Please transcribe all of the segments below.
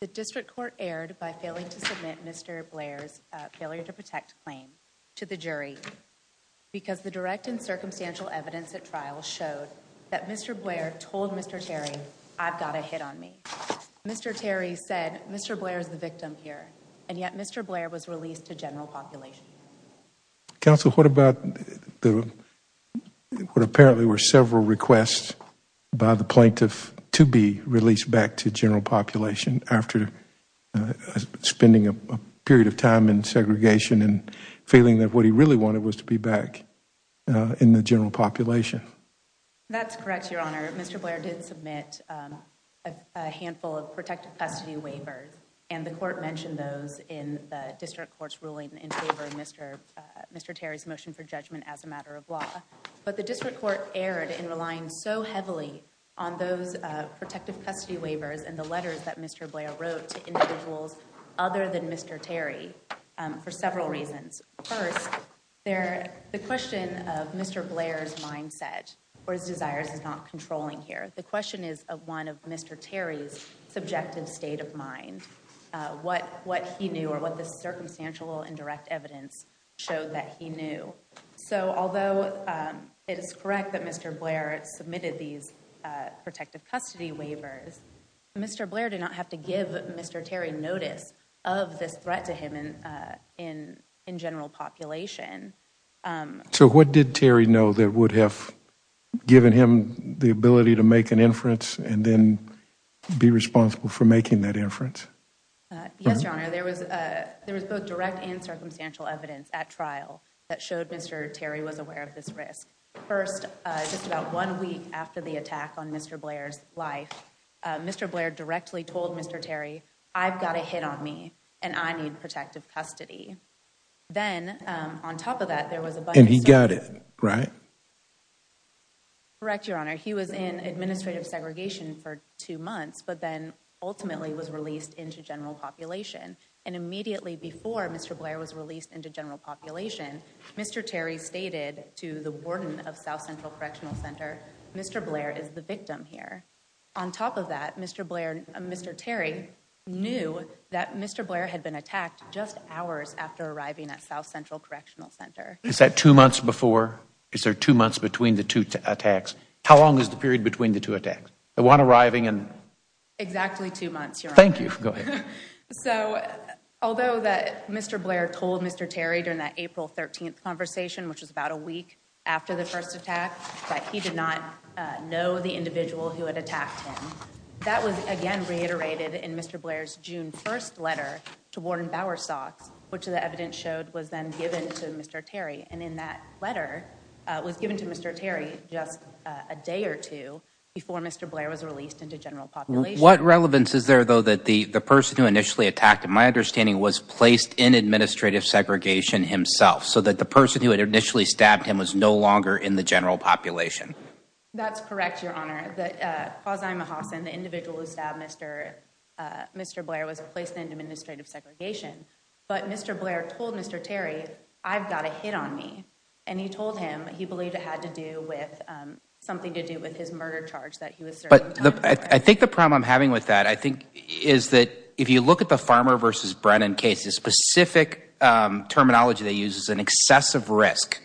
The District Court erred by failing to submit Mr. Blair's failure to protect claim to the jury because the direct and circumstantial evidence at trial showed that Mr. Blair told Mr. Terry, I've got a hit on me. Mr. Terry said Mr. Blair is the victim here, and yet Mr. Blair was released to general population. Counsel, what about the, what apparently were several requests by the plaintiff to be released back to general population after spending a period of time in segregation and feeling that what he really wanted was to be back in the general population? That's correct, Your Honor. Mr. Blair did submit a handful of protective custody waivers, and the court mentioned those in the District Court's ruling in favor of Mr. Terry's motion for judgment as a matter of law. But the District Court erred in relying so heavily on those protective custody waivers and the letters that Mr. Blair wrote to individuals other than Mr. Terry for several reasons. First, the question of Mr. Blair's mindset or his desires is not controlling here. The question is of one of Mr. Terry's subjective state of mind. What he knew or what the circumstantial and direct evidence showed that he knew. So although it is correct that Mr. Blair submitted these protective custody waivers, Mr. Blair did not have to give Mr. Terry notice of this threat to him in general population. So what did Terry know that would have given him the ability to make an inference and then be responsible for making that inference? Yes, Your Honor. There was both direct and circumstantial evidence at trial that showed Mr. Terry was aware of this risk. First, just about one week after the attack on Mr. Blair's life, Mr. Blair directly told Mr. Terry, I've got a hit on me, and I need protective custody. Then on top of that, there was a bunch of... And he got it, right? Correct, Your Honor. He was in administrative segregation for two months, but then ultimately was released into general population. And immediately before Mr. Blair was released into general population, Mr. Terry stated to the warden of South Central Correctional Center, Mr. Blair is the victim here. On top of that, Mr. Terry knew that Mr. Blair had been attacked just hours after arriving at South Central Correctional Center. Is that two months before? Is there two months between the two attacks? How long is the period between the two attacks? The one arriving in... Exactly two months, Your Honor. Thank you. Go ahead. So, although Mr. Blair told Mr. Terry during that April 13th conversation, which was about a week after the first attack, that he did not know the individual who had attacked him, that was again reiterated in Mr. Blair's June 1st letter to Warden Bowersox, which the evidence showed was then given to Mr. Terry. And in that letter, it was given to Mr. Terry just a day or two before Mr. Blair was released into general population. What relevance is there, though, that the person who initially attacked him, my understanding was placed in administrative segregation himself, so that the person who had initially stabbed him was no longer in the general population? That's correct, Your Honor. The quasi-Mahasin, the individual who stabbed Mr. Blair, was placed in administrative segregation. But Mr. Blair told Mr. Terry, I've got a hit on me. And he told him he believed it had to do with something to do with his murder charge that he was serving time for. But I think the problem I'm having with that, I think, is that if you look at the Farmer versus Brennan case, the specific terminology they use is an excessive risk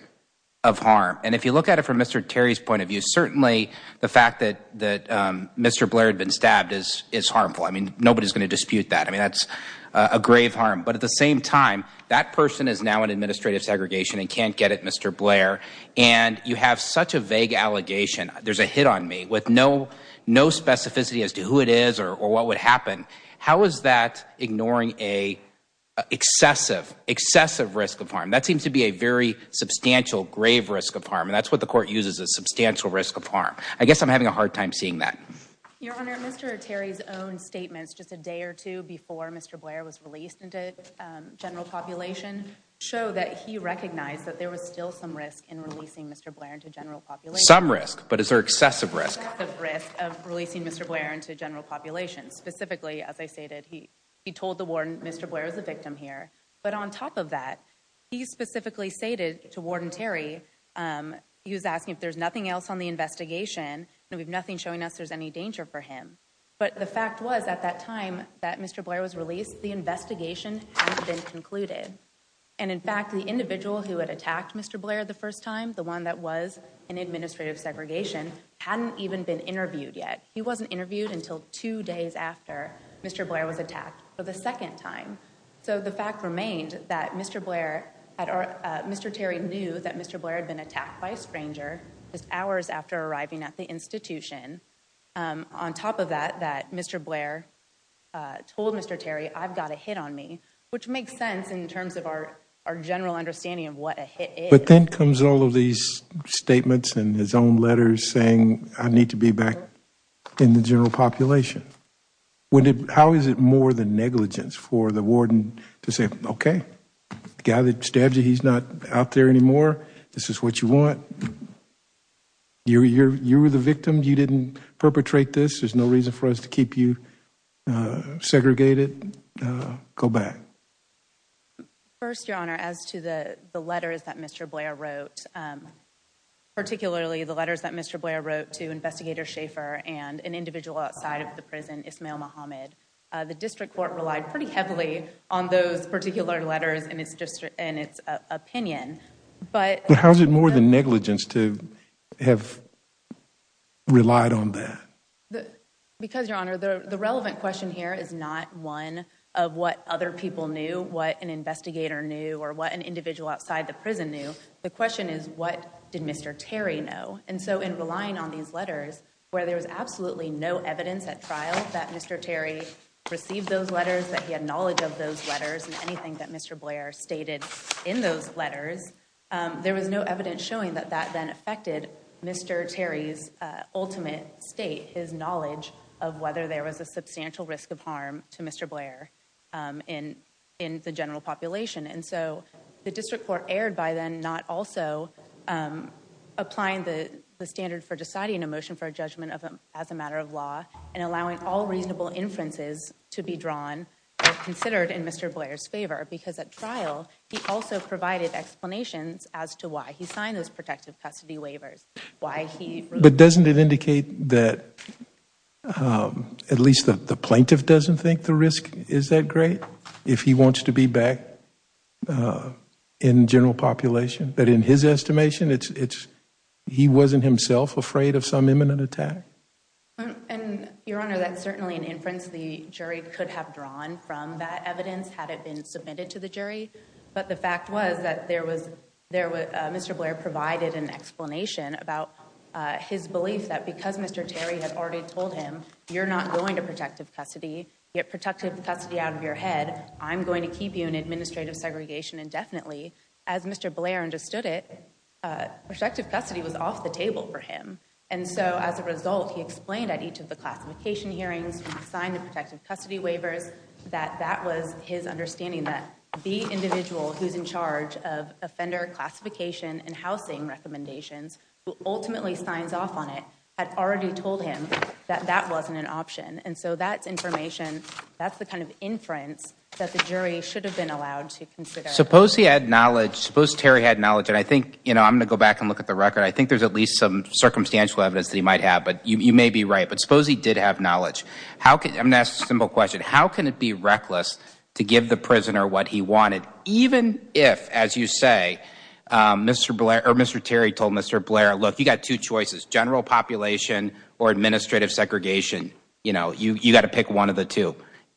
of harm. And if you look at it from Mr. Terry's point of view, certainly the fact that Mr. Blair had been stabbed is harmful. I mean, nobody's going to dispute that. I mean, that's a grave harm. But at the same time, that person is now in administrative segregation and can't get it, Mr. Blair. And you have such a vague allegation, there's a hit on me, with no specificity as to who it is or what would happen. How is that ignoring an excessive, excessive risk of harm? That seems to be a very substantial, grave risk of harm. And that's what the court uses, a substantial risk of harm. I guess I'm having a hard time seeing that. Your Honor, Mr. Terry's own statements just a day or two before Mr. Blair was released into general population show that he recognized that there was still some risk in releasing Mr. Blair into general population. Some risk, but is there excessive risk? Excessive risk of releasing Mr. Blair into general population. Specifically, as I stated, he told the warden, Mr. Blair is a victim here. But on top of that, he specifically stated to Warden Terry, he was asking if there's nothing else on the investigation, and we have nothing showing us there's any danger for him. But the fact was, at that time that Mr. Blair was released, the investigation had been concluded. And in fact, the individual who had attacked Mr. Blair the first time, the one that was in administrative segregation, hadn't even been interviewed yet. He wasn't interviewed until two days after Mr. Blair was attacked for the second time. So the fact remained that Mr. Blair, or Mr. Terry knew that Mr. Blair had been attacked by a stranger just hours after arriving at the institution. On top of that, that Mr. Blair told Mr. Terry, I've got a hit on me. Which makes sense in terms of our general understanding of what a hit is. But then comes all of these statements and his own letters saying I need to be back in the general population. How is it more than negligence for the warden to say, okay, the guy that stabbed you, he's not out there anymore. This is what you want. You were the victim. You didn't perpetrate this. There's no reason for us to keep you segregated. Go back. First, your honor, as to the letters that Mr. Blair wrote, particularly the letters that Mr. Blair wrote to Investigator Schaefer and an individual outside of the prison, Ismail Muhammad, the district court relied pretty heavily on those particular letters and its opinion. How is it more than negligence to have relied on that? Because your honor, the relevant question here is not one of what other people knew, what an investigator knew, or what an individual outside the prison knew. The question is, what did Mr. Terry know? And so in relying on these letters, where there was absolutely no evidence at trial that Mr. Terry received those letters, that he had knowledge of those letters, and anything that Mr. Blair stated in those letters, there was no evidence showing that that then affected Mr. Terry's ultimate state, his knowledge of whether there was a substantial risk of harm to Mr. Blair in the general population. And so the district court erred by then not also applying the standard for deciding a motion for a judgment as a matter of law, and allowing all reasonable inferences to be drawn or considered in Mr. Blair's favor, because at trial, he also provided explanations as to why he signed those protective custody waivers. But doesn't it indicate that at least the plaintiff doesn't think the risk is that great if he wants to be back in general population, but in his estimation, he wasn't himself afraid of some imminent attack? And Your Honor, that's certainly an inference the jury could have drawn from that evidence had it been submitted to the jury. But the fact was that Mr. Blair provided an explanation about his belief that because Mr. Terry had already told him, you're not going to protective custody, get protective custody out of your head, I'm going to keep you in administrative segregation indefinitely. As Mr. Blair understood it, protective custody was off the table for him. And so as a result, he explained at each of the classification hearings, signed the protective custody waivers, that that was his understanding that the individual who's in charge of offender classification and housing recommendations, who ultimately signs off on it, had already told him that that wasn't an option. And so that's information, that's the kind of inference that the jury should have been allowed to consider. Suppose he had knowledge, suppose Terry had knowledge, and I think, you know, I'm going to go back and look at the record. I think there's at least some circumstantial evidence that he might have, but you may be right. But suppose he did have knowledge. I'm going to ask a simple question. How can it be reckless to give the prisoner what he wanted, even if, as you say, Mr. Blair or Mr. Terry told Mr. Blair, look, you got two choices, general population or administrative segregation, you know, you got to pick one of the two.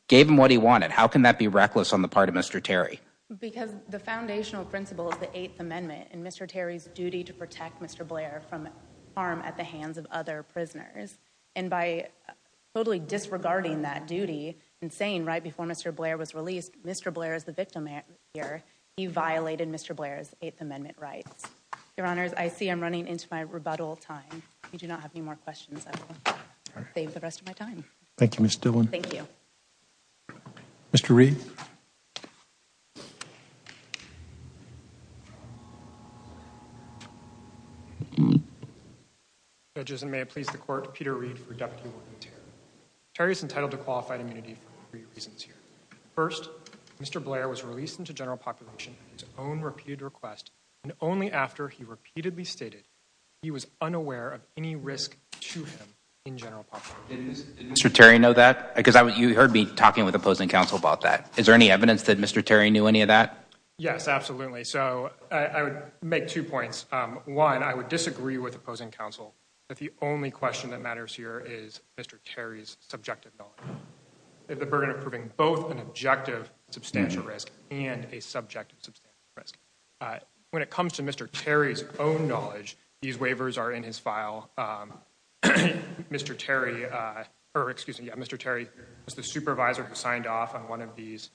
Gave him what he wanted. How can that be reckless on the part of Mr. Terry? Because the foundational principle of the Eighth Amendment and Mr. Terry's duty to protect Mr. Blair from harm at the hands of other prisoners. And by totally disregarding that duty and saying right before Mr. Blair was released, Mr. Blair is the victim here, he violated Mr. Blair's Eighth Amendment rights. Your Honors, I see I'm running into my rebuttal time. We do not have any more questions. I will save the rest of my time. Thank you, Ms. Stillman. Thank you. Mr. Reed. Judges, and may it please the Court, Peter Reed for Deputy Warden Terry. Terry is entitled to qualified immunity for three reasons here. First, Mr. Blair was released into general population at his own repeated request and only after he repeatedly stated he was unaware of any risk to him in general population. Did Mr. Terry know that? You heard me talking with opposing counsel about that. Is there any evidence that Mr. Terry knew any of that? Yes, absolutely. So I would make two points. One, I would disagree with opposing counsel that the only question that matters here is Mr. Terry's subjective knowledge. The burden of proving both an objective substantial risk and a subjective substantial risk. When it comes to Mr. Terry's own knowledge, these waivers are in his file. For example, Mr. Terry, or excuse me, Mr. Terry was the supervisor who signed off on one of these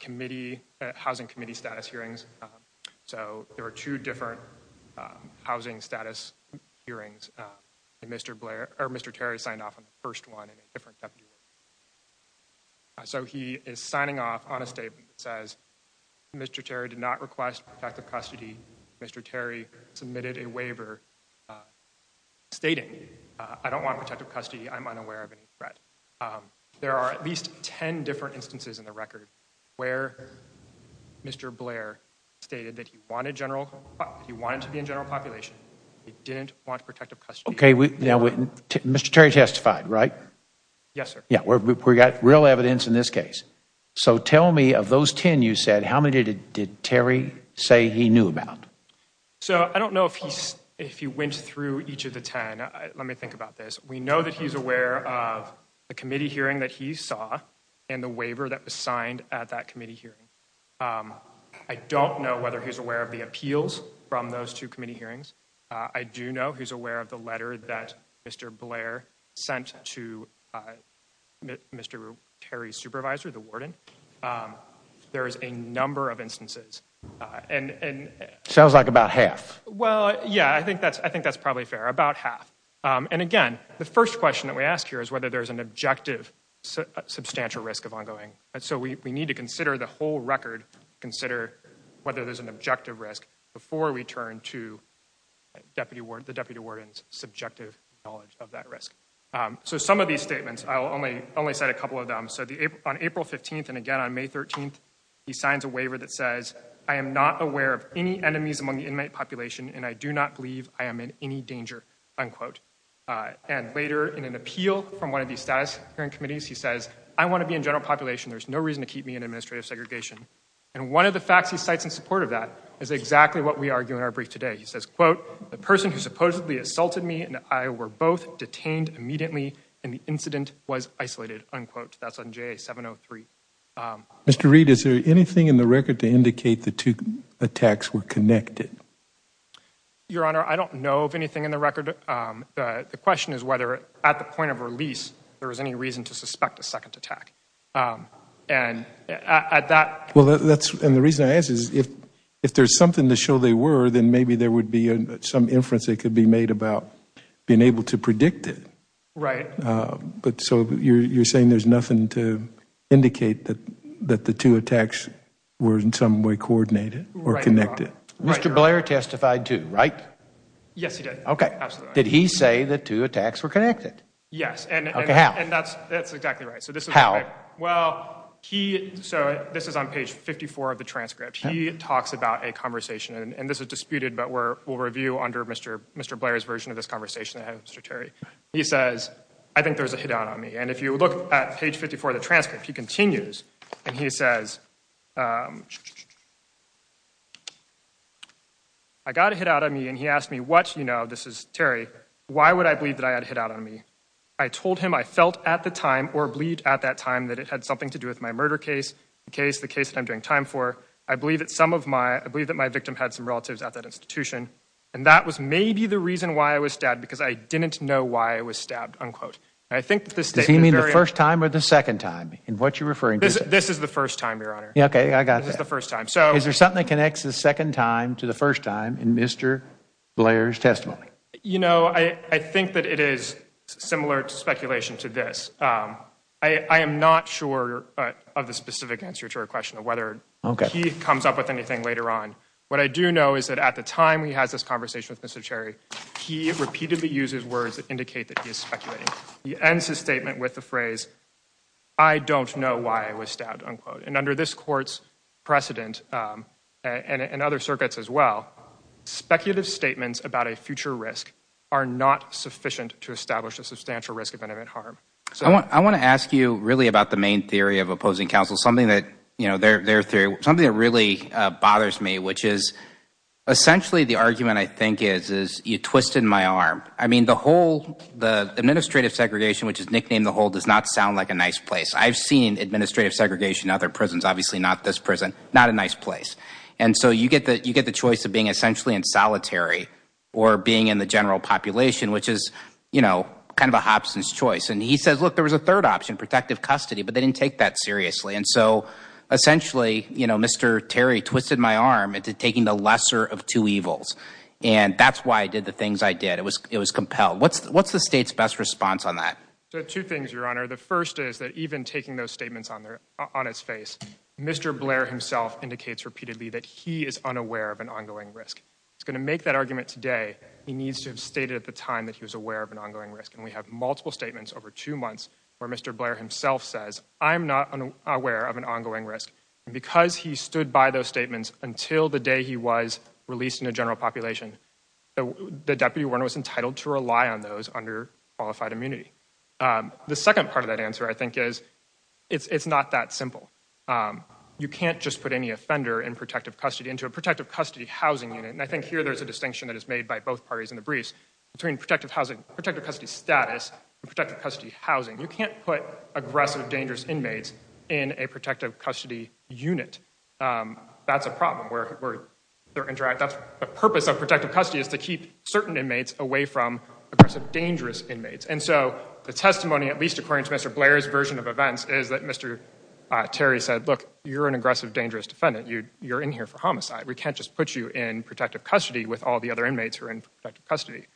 committee, housing committee status hearings. So there were two different housing status hearings and Mr. Blair, or Mr. Terry signed off on the first one. So he is signing off on a statement that says, Mr. Terry did not request protective custody. Mr. Terry submitted a waiver stating, I don't want protective custody, I'm unaware of any threat. There are at least 10 different instances in the record where Mr. Blair stated that he wanted general, he wanted to be in general population, he didn't want protective custody. Okay, now Mr. Terry testified, right? Yes, sir. Yeah, we've got real evidence in this case. So tell me of those 10 you said, how many did Terry say he knew about? So I don't know if he went through each of the 10, let me think about this. We know that he's aware of the committee hearing that he saw and the waiver that was signed at that committee hearing. I don't know whether he's aware of the appeals from those two committee hearings. I do know he's aware of the letter that Mr. Blair sent to Mr. Terry's supervisor, the deputy warden. There's a number of instances. Sounds like about half. Well, yeah, I think that's probably fair, about half. And again, the first question that we ask here is whether there's an objective substantial risk of ongoing. And so we need to consider the whole record, consider whether there's an objective risk before we turn to the deputy warden's subjective knowledge of that risk. So some of these statements, I'll only cite a couple of them. So on April 15th, and again, on May 13th, he signs a waiver that says, I am not aware of any enemies among the inmate population, and I do not believe I am in any danger, unquote. And later in an appeal from one of these status hearing committees, he says, I want to be in general population. There's no reason to keep me in administrative segregation. And one of the facts he cites in support of that is exactly what we argue in our brief today. He says, quote, the person who supposedly assaulted me and I were both detained immediately and the incident was isolated, unquote. That's on JA 703. Mr. Reed, is there anything in the record to indicate the two attacks were connected? Your Honor, I don't know of anything in the record. The question is whether, at the point of release, there was any reason to suspect a second attack. And at that point, the reason I ask is, if there's something to show they were, then maybe there would be some inference that could be made about being able to predict it. Right. But so you're saying there's nothing to indicate that the two attacks were in some way coordinated or connected? Right, Your Honor. Mr. Blair testified too, right? Yes, he did. Okay. Absolutely right. Did he say the two attacks were connected? Yes. Okay, how? And that's exactly right. How? So this is on page 54 of the transcript. He talks about a conversation, and this is disputed, but we'll review under Mr. Blair's version of this conversation that I have with Mr. Terry. He says, I think there was a hit-out on me. And if you look at page 54 of the transcript, he continues, and he says, I got a hit-out on me, and he asked me, what, you know, this is Terry, why would I believe that I had a hit-out on me? I told him I felt at the time, or believed at that time, that it had something to do with my murder case, the case that I'm doing time for. I believe that some of my, I believe that my victim had some relatives at that institution, and that was maybe the reason why I was stabbed, because I didn't know why I was stabbed, unquote. I think that this statement is very- Does he mean the first time or the second time in what you're referring to? This is the first time, Your Honor. Yeah, okay, I got that. This is the first time. So- Is there something that connects the second time to the first time in Mr. Blair's testimony? You know, I think that it is similar speculation to this. I am not sure of the specific answer to her question of whether he comes up with anything later on. What I do know is that at the time he has this conversation with Mr. Cherry, he repeatedly uses words that indicate that he is speculating. He ends his statement with the phrase, I don't know why I was stabbed, unquote. And under this court's precedent, and other circuits as well, speculative statements about a future risk are not sufficient to establish a substantial risk of intimate harm. I want to ask you really about the main theory of opposing counsel, something that, you know, which is essentially the argument I think is, is you twisted my arm. I mean, the whole, the administrative segregation, which is nicknamed the whole, does not sound like a nice place. I've seen administrative segregation in other prisons, obviously not this prison, not a nice place. And so you get the choice of being essentially in solitary or being in the general population, which is, you know, kind of a Hobson's choice. And he says, look, there was a third option, protective custody, but they didn't take that seriously. And so essentially, you know, Mr. Terry twisted my arm into taking the lesser of two evils. And that's why I did the things I did. It was, it was compelled. What's, what's the state's best response on that? So two things, your honor. The first is that even taking those statements on there, on his face, Mr. Blair himself indicates repeatedly that he is unaware of an ongoing risk. He's going to make that argument today. He needs to have stated at the time that he was aware of an ongoing risk. And we have multiple statements over two months where Mr. Blair himself says, I'm not aware of an ongoing risk because he stood by those statements until the day he was released in a general population. The deputy one was entitled to rely on those under qualified immunity. The second part of that answer, I think is it's, it's not that simple. You can't just put any offender in protective custody into a protective custody housing unit. And I think here there's a distinction that is made by both parties in the briefs between protective housing, protective custody status and protective custody housing. You can't put aggressive, dangerous inmates in a protective custody unit. That's a problem where they're interact, that's the purpose of protective custody is to keep certain inmates away from aggressive, dangerous inmates. And so the testimony, at least according to Mr. Blair's version of events, is that Mr. Terry said, look, you're an aggressive, dangerous defendant. You're in here for homicide. We can't just put you in protective custody with all the other inmates who are in protective custody.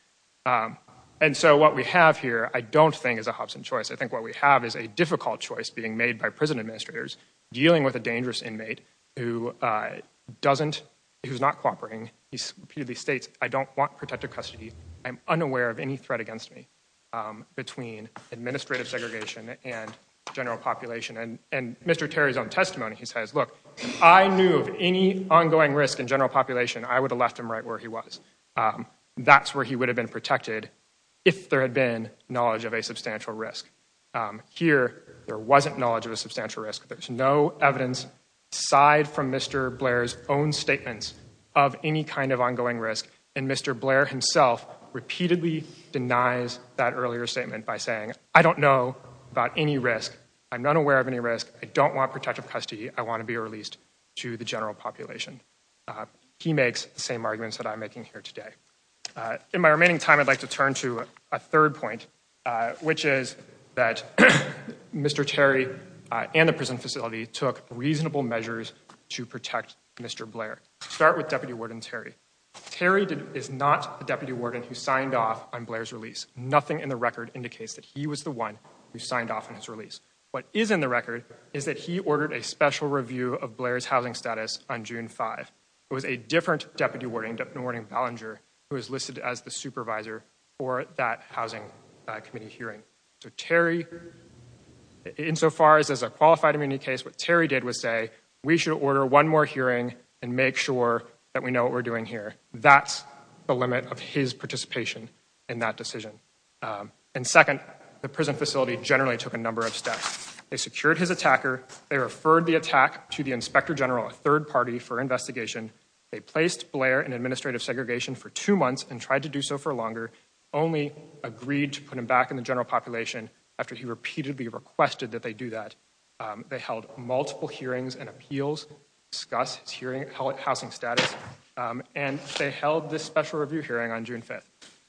And so what we have here, I don't think is a Hobson choice. I think what we have is a difficult choice being made by prison administrators dealing with a dangerous inmate who doesn't, who's not cooperating. He repeatedly states, I don't want protective custody. I'm unaware of any threat against me between administrative segregation and general population. And Mr. Terry's own testimony, he says, look, I knew of any ongoing risk in general population, I would have left him right where he was. That's where he would have been protected if there had been knowledge of a substantial risk. Here, there wasn't knowledge of a substantial risk. There's no evidence aside from Mr. Blair's own statements of any kind of ongoing risk. And Mr. Blair himself repeatedly denies that earlier statement by saying, I don't know about any risk. I'm not aware of any risk. I don't want protective custody. I want to be released to the general population. He makes the same arguments that I'm making here today. In my remaining time, I'd like to turn to a third point, which is that Mr. Terry and the prison facility took reasonable measures to protect Mr. Blair. Start with Deputy Warden Terry. Terry is not the deputy warden who signed off on Blair's release. Nothing in the record indicates that he was the one who signed off on his release. What is in the record is that he ordered a special review of Blair's housing status on June 5. It was a different deputy warden, Deputy Warden Ballinger, who was listed as the supervisor for that housing committee hearing. So Terry, insofar as there's a qualified immunity case, what Terry did was say, we should order one more hearing and make sure that we know what we're doing here. That's the limit of his participation in that decision. And second, the prison facility generally took a number of steps. They secured his attacker, they referred the attack to the Inspector General, a third party for investigation. They placed Blair in administrative segregation for two months and tried to do so for longer, only agreed to put him back in the general population after he repeatedly requested that they do that. They held multiple hearings and appeals, discussed his housing status, and they held this special review hearing on June 5.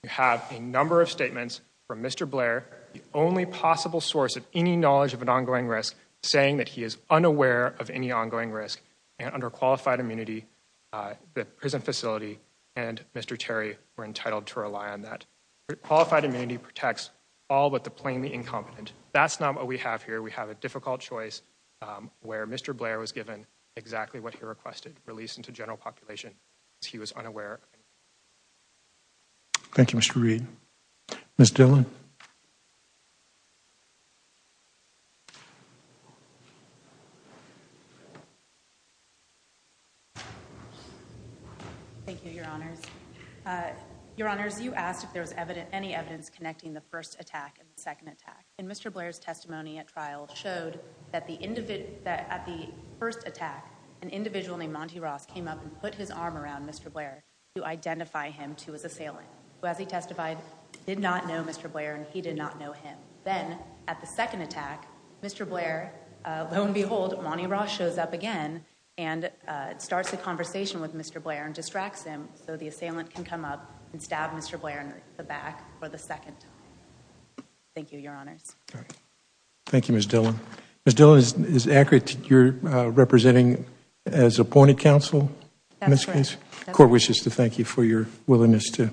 We have a number of statements from Mr. Blair, the only possible source of any knowledge of an ongoing risk, saying that he is unaware of any ongoing risk, and under qualified immunity, the prison facility and Mr. Terry were entitled to rely on that. Qualified immunity protects all but the plainly incompetent. That's not what we have here. We have a difficult choice, where Mr. Blair was given exactly what he requested, released into general population. He was unaware. Thank you, Mr. Reed. Ms. Dillon. Thank you, Your Honors. Your Honors, you asked if there was any evidence connecting the first attack and the second attack, and Mr. Blair's testimony at trial showed that at the first attack, an individual named Monty Ross came up and put his arm around Mr. Blair to identify him to his assailant, who, as he testified, did not know Mr. Blair and he did not know him. Then, at the second attack, Mr. Blair, lo and behold, Monty Ross shows up again and starts a conversation with Mr. Blair and distracts him so the assailant can come up and stab Mr. Blair in the back for the second time. Thank you, Your Honors. Thank you, Ms. Dillon. Ms. Dillon, is it accurate that you're representing as appointed counsel in this case? That's correct. The court wishes to thank you for your willingness to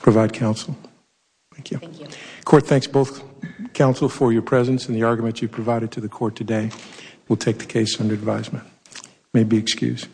provide counsel. Thank you. Thank you. The court thanks both counsel for your presence and the argument you provided to the court today. We'll take the case under advisement. You may be excused.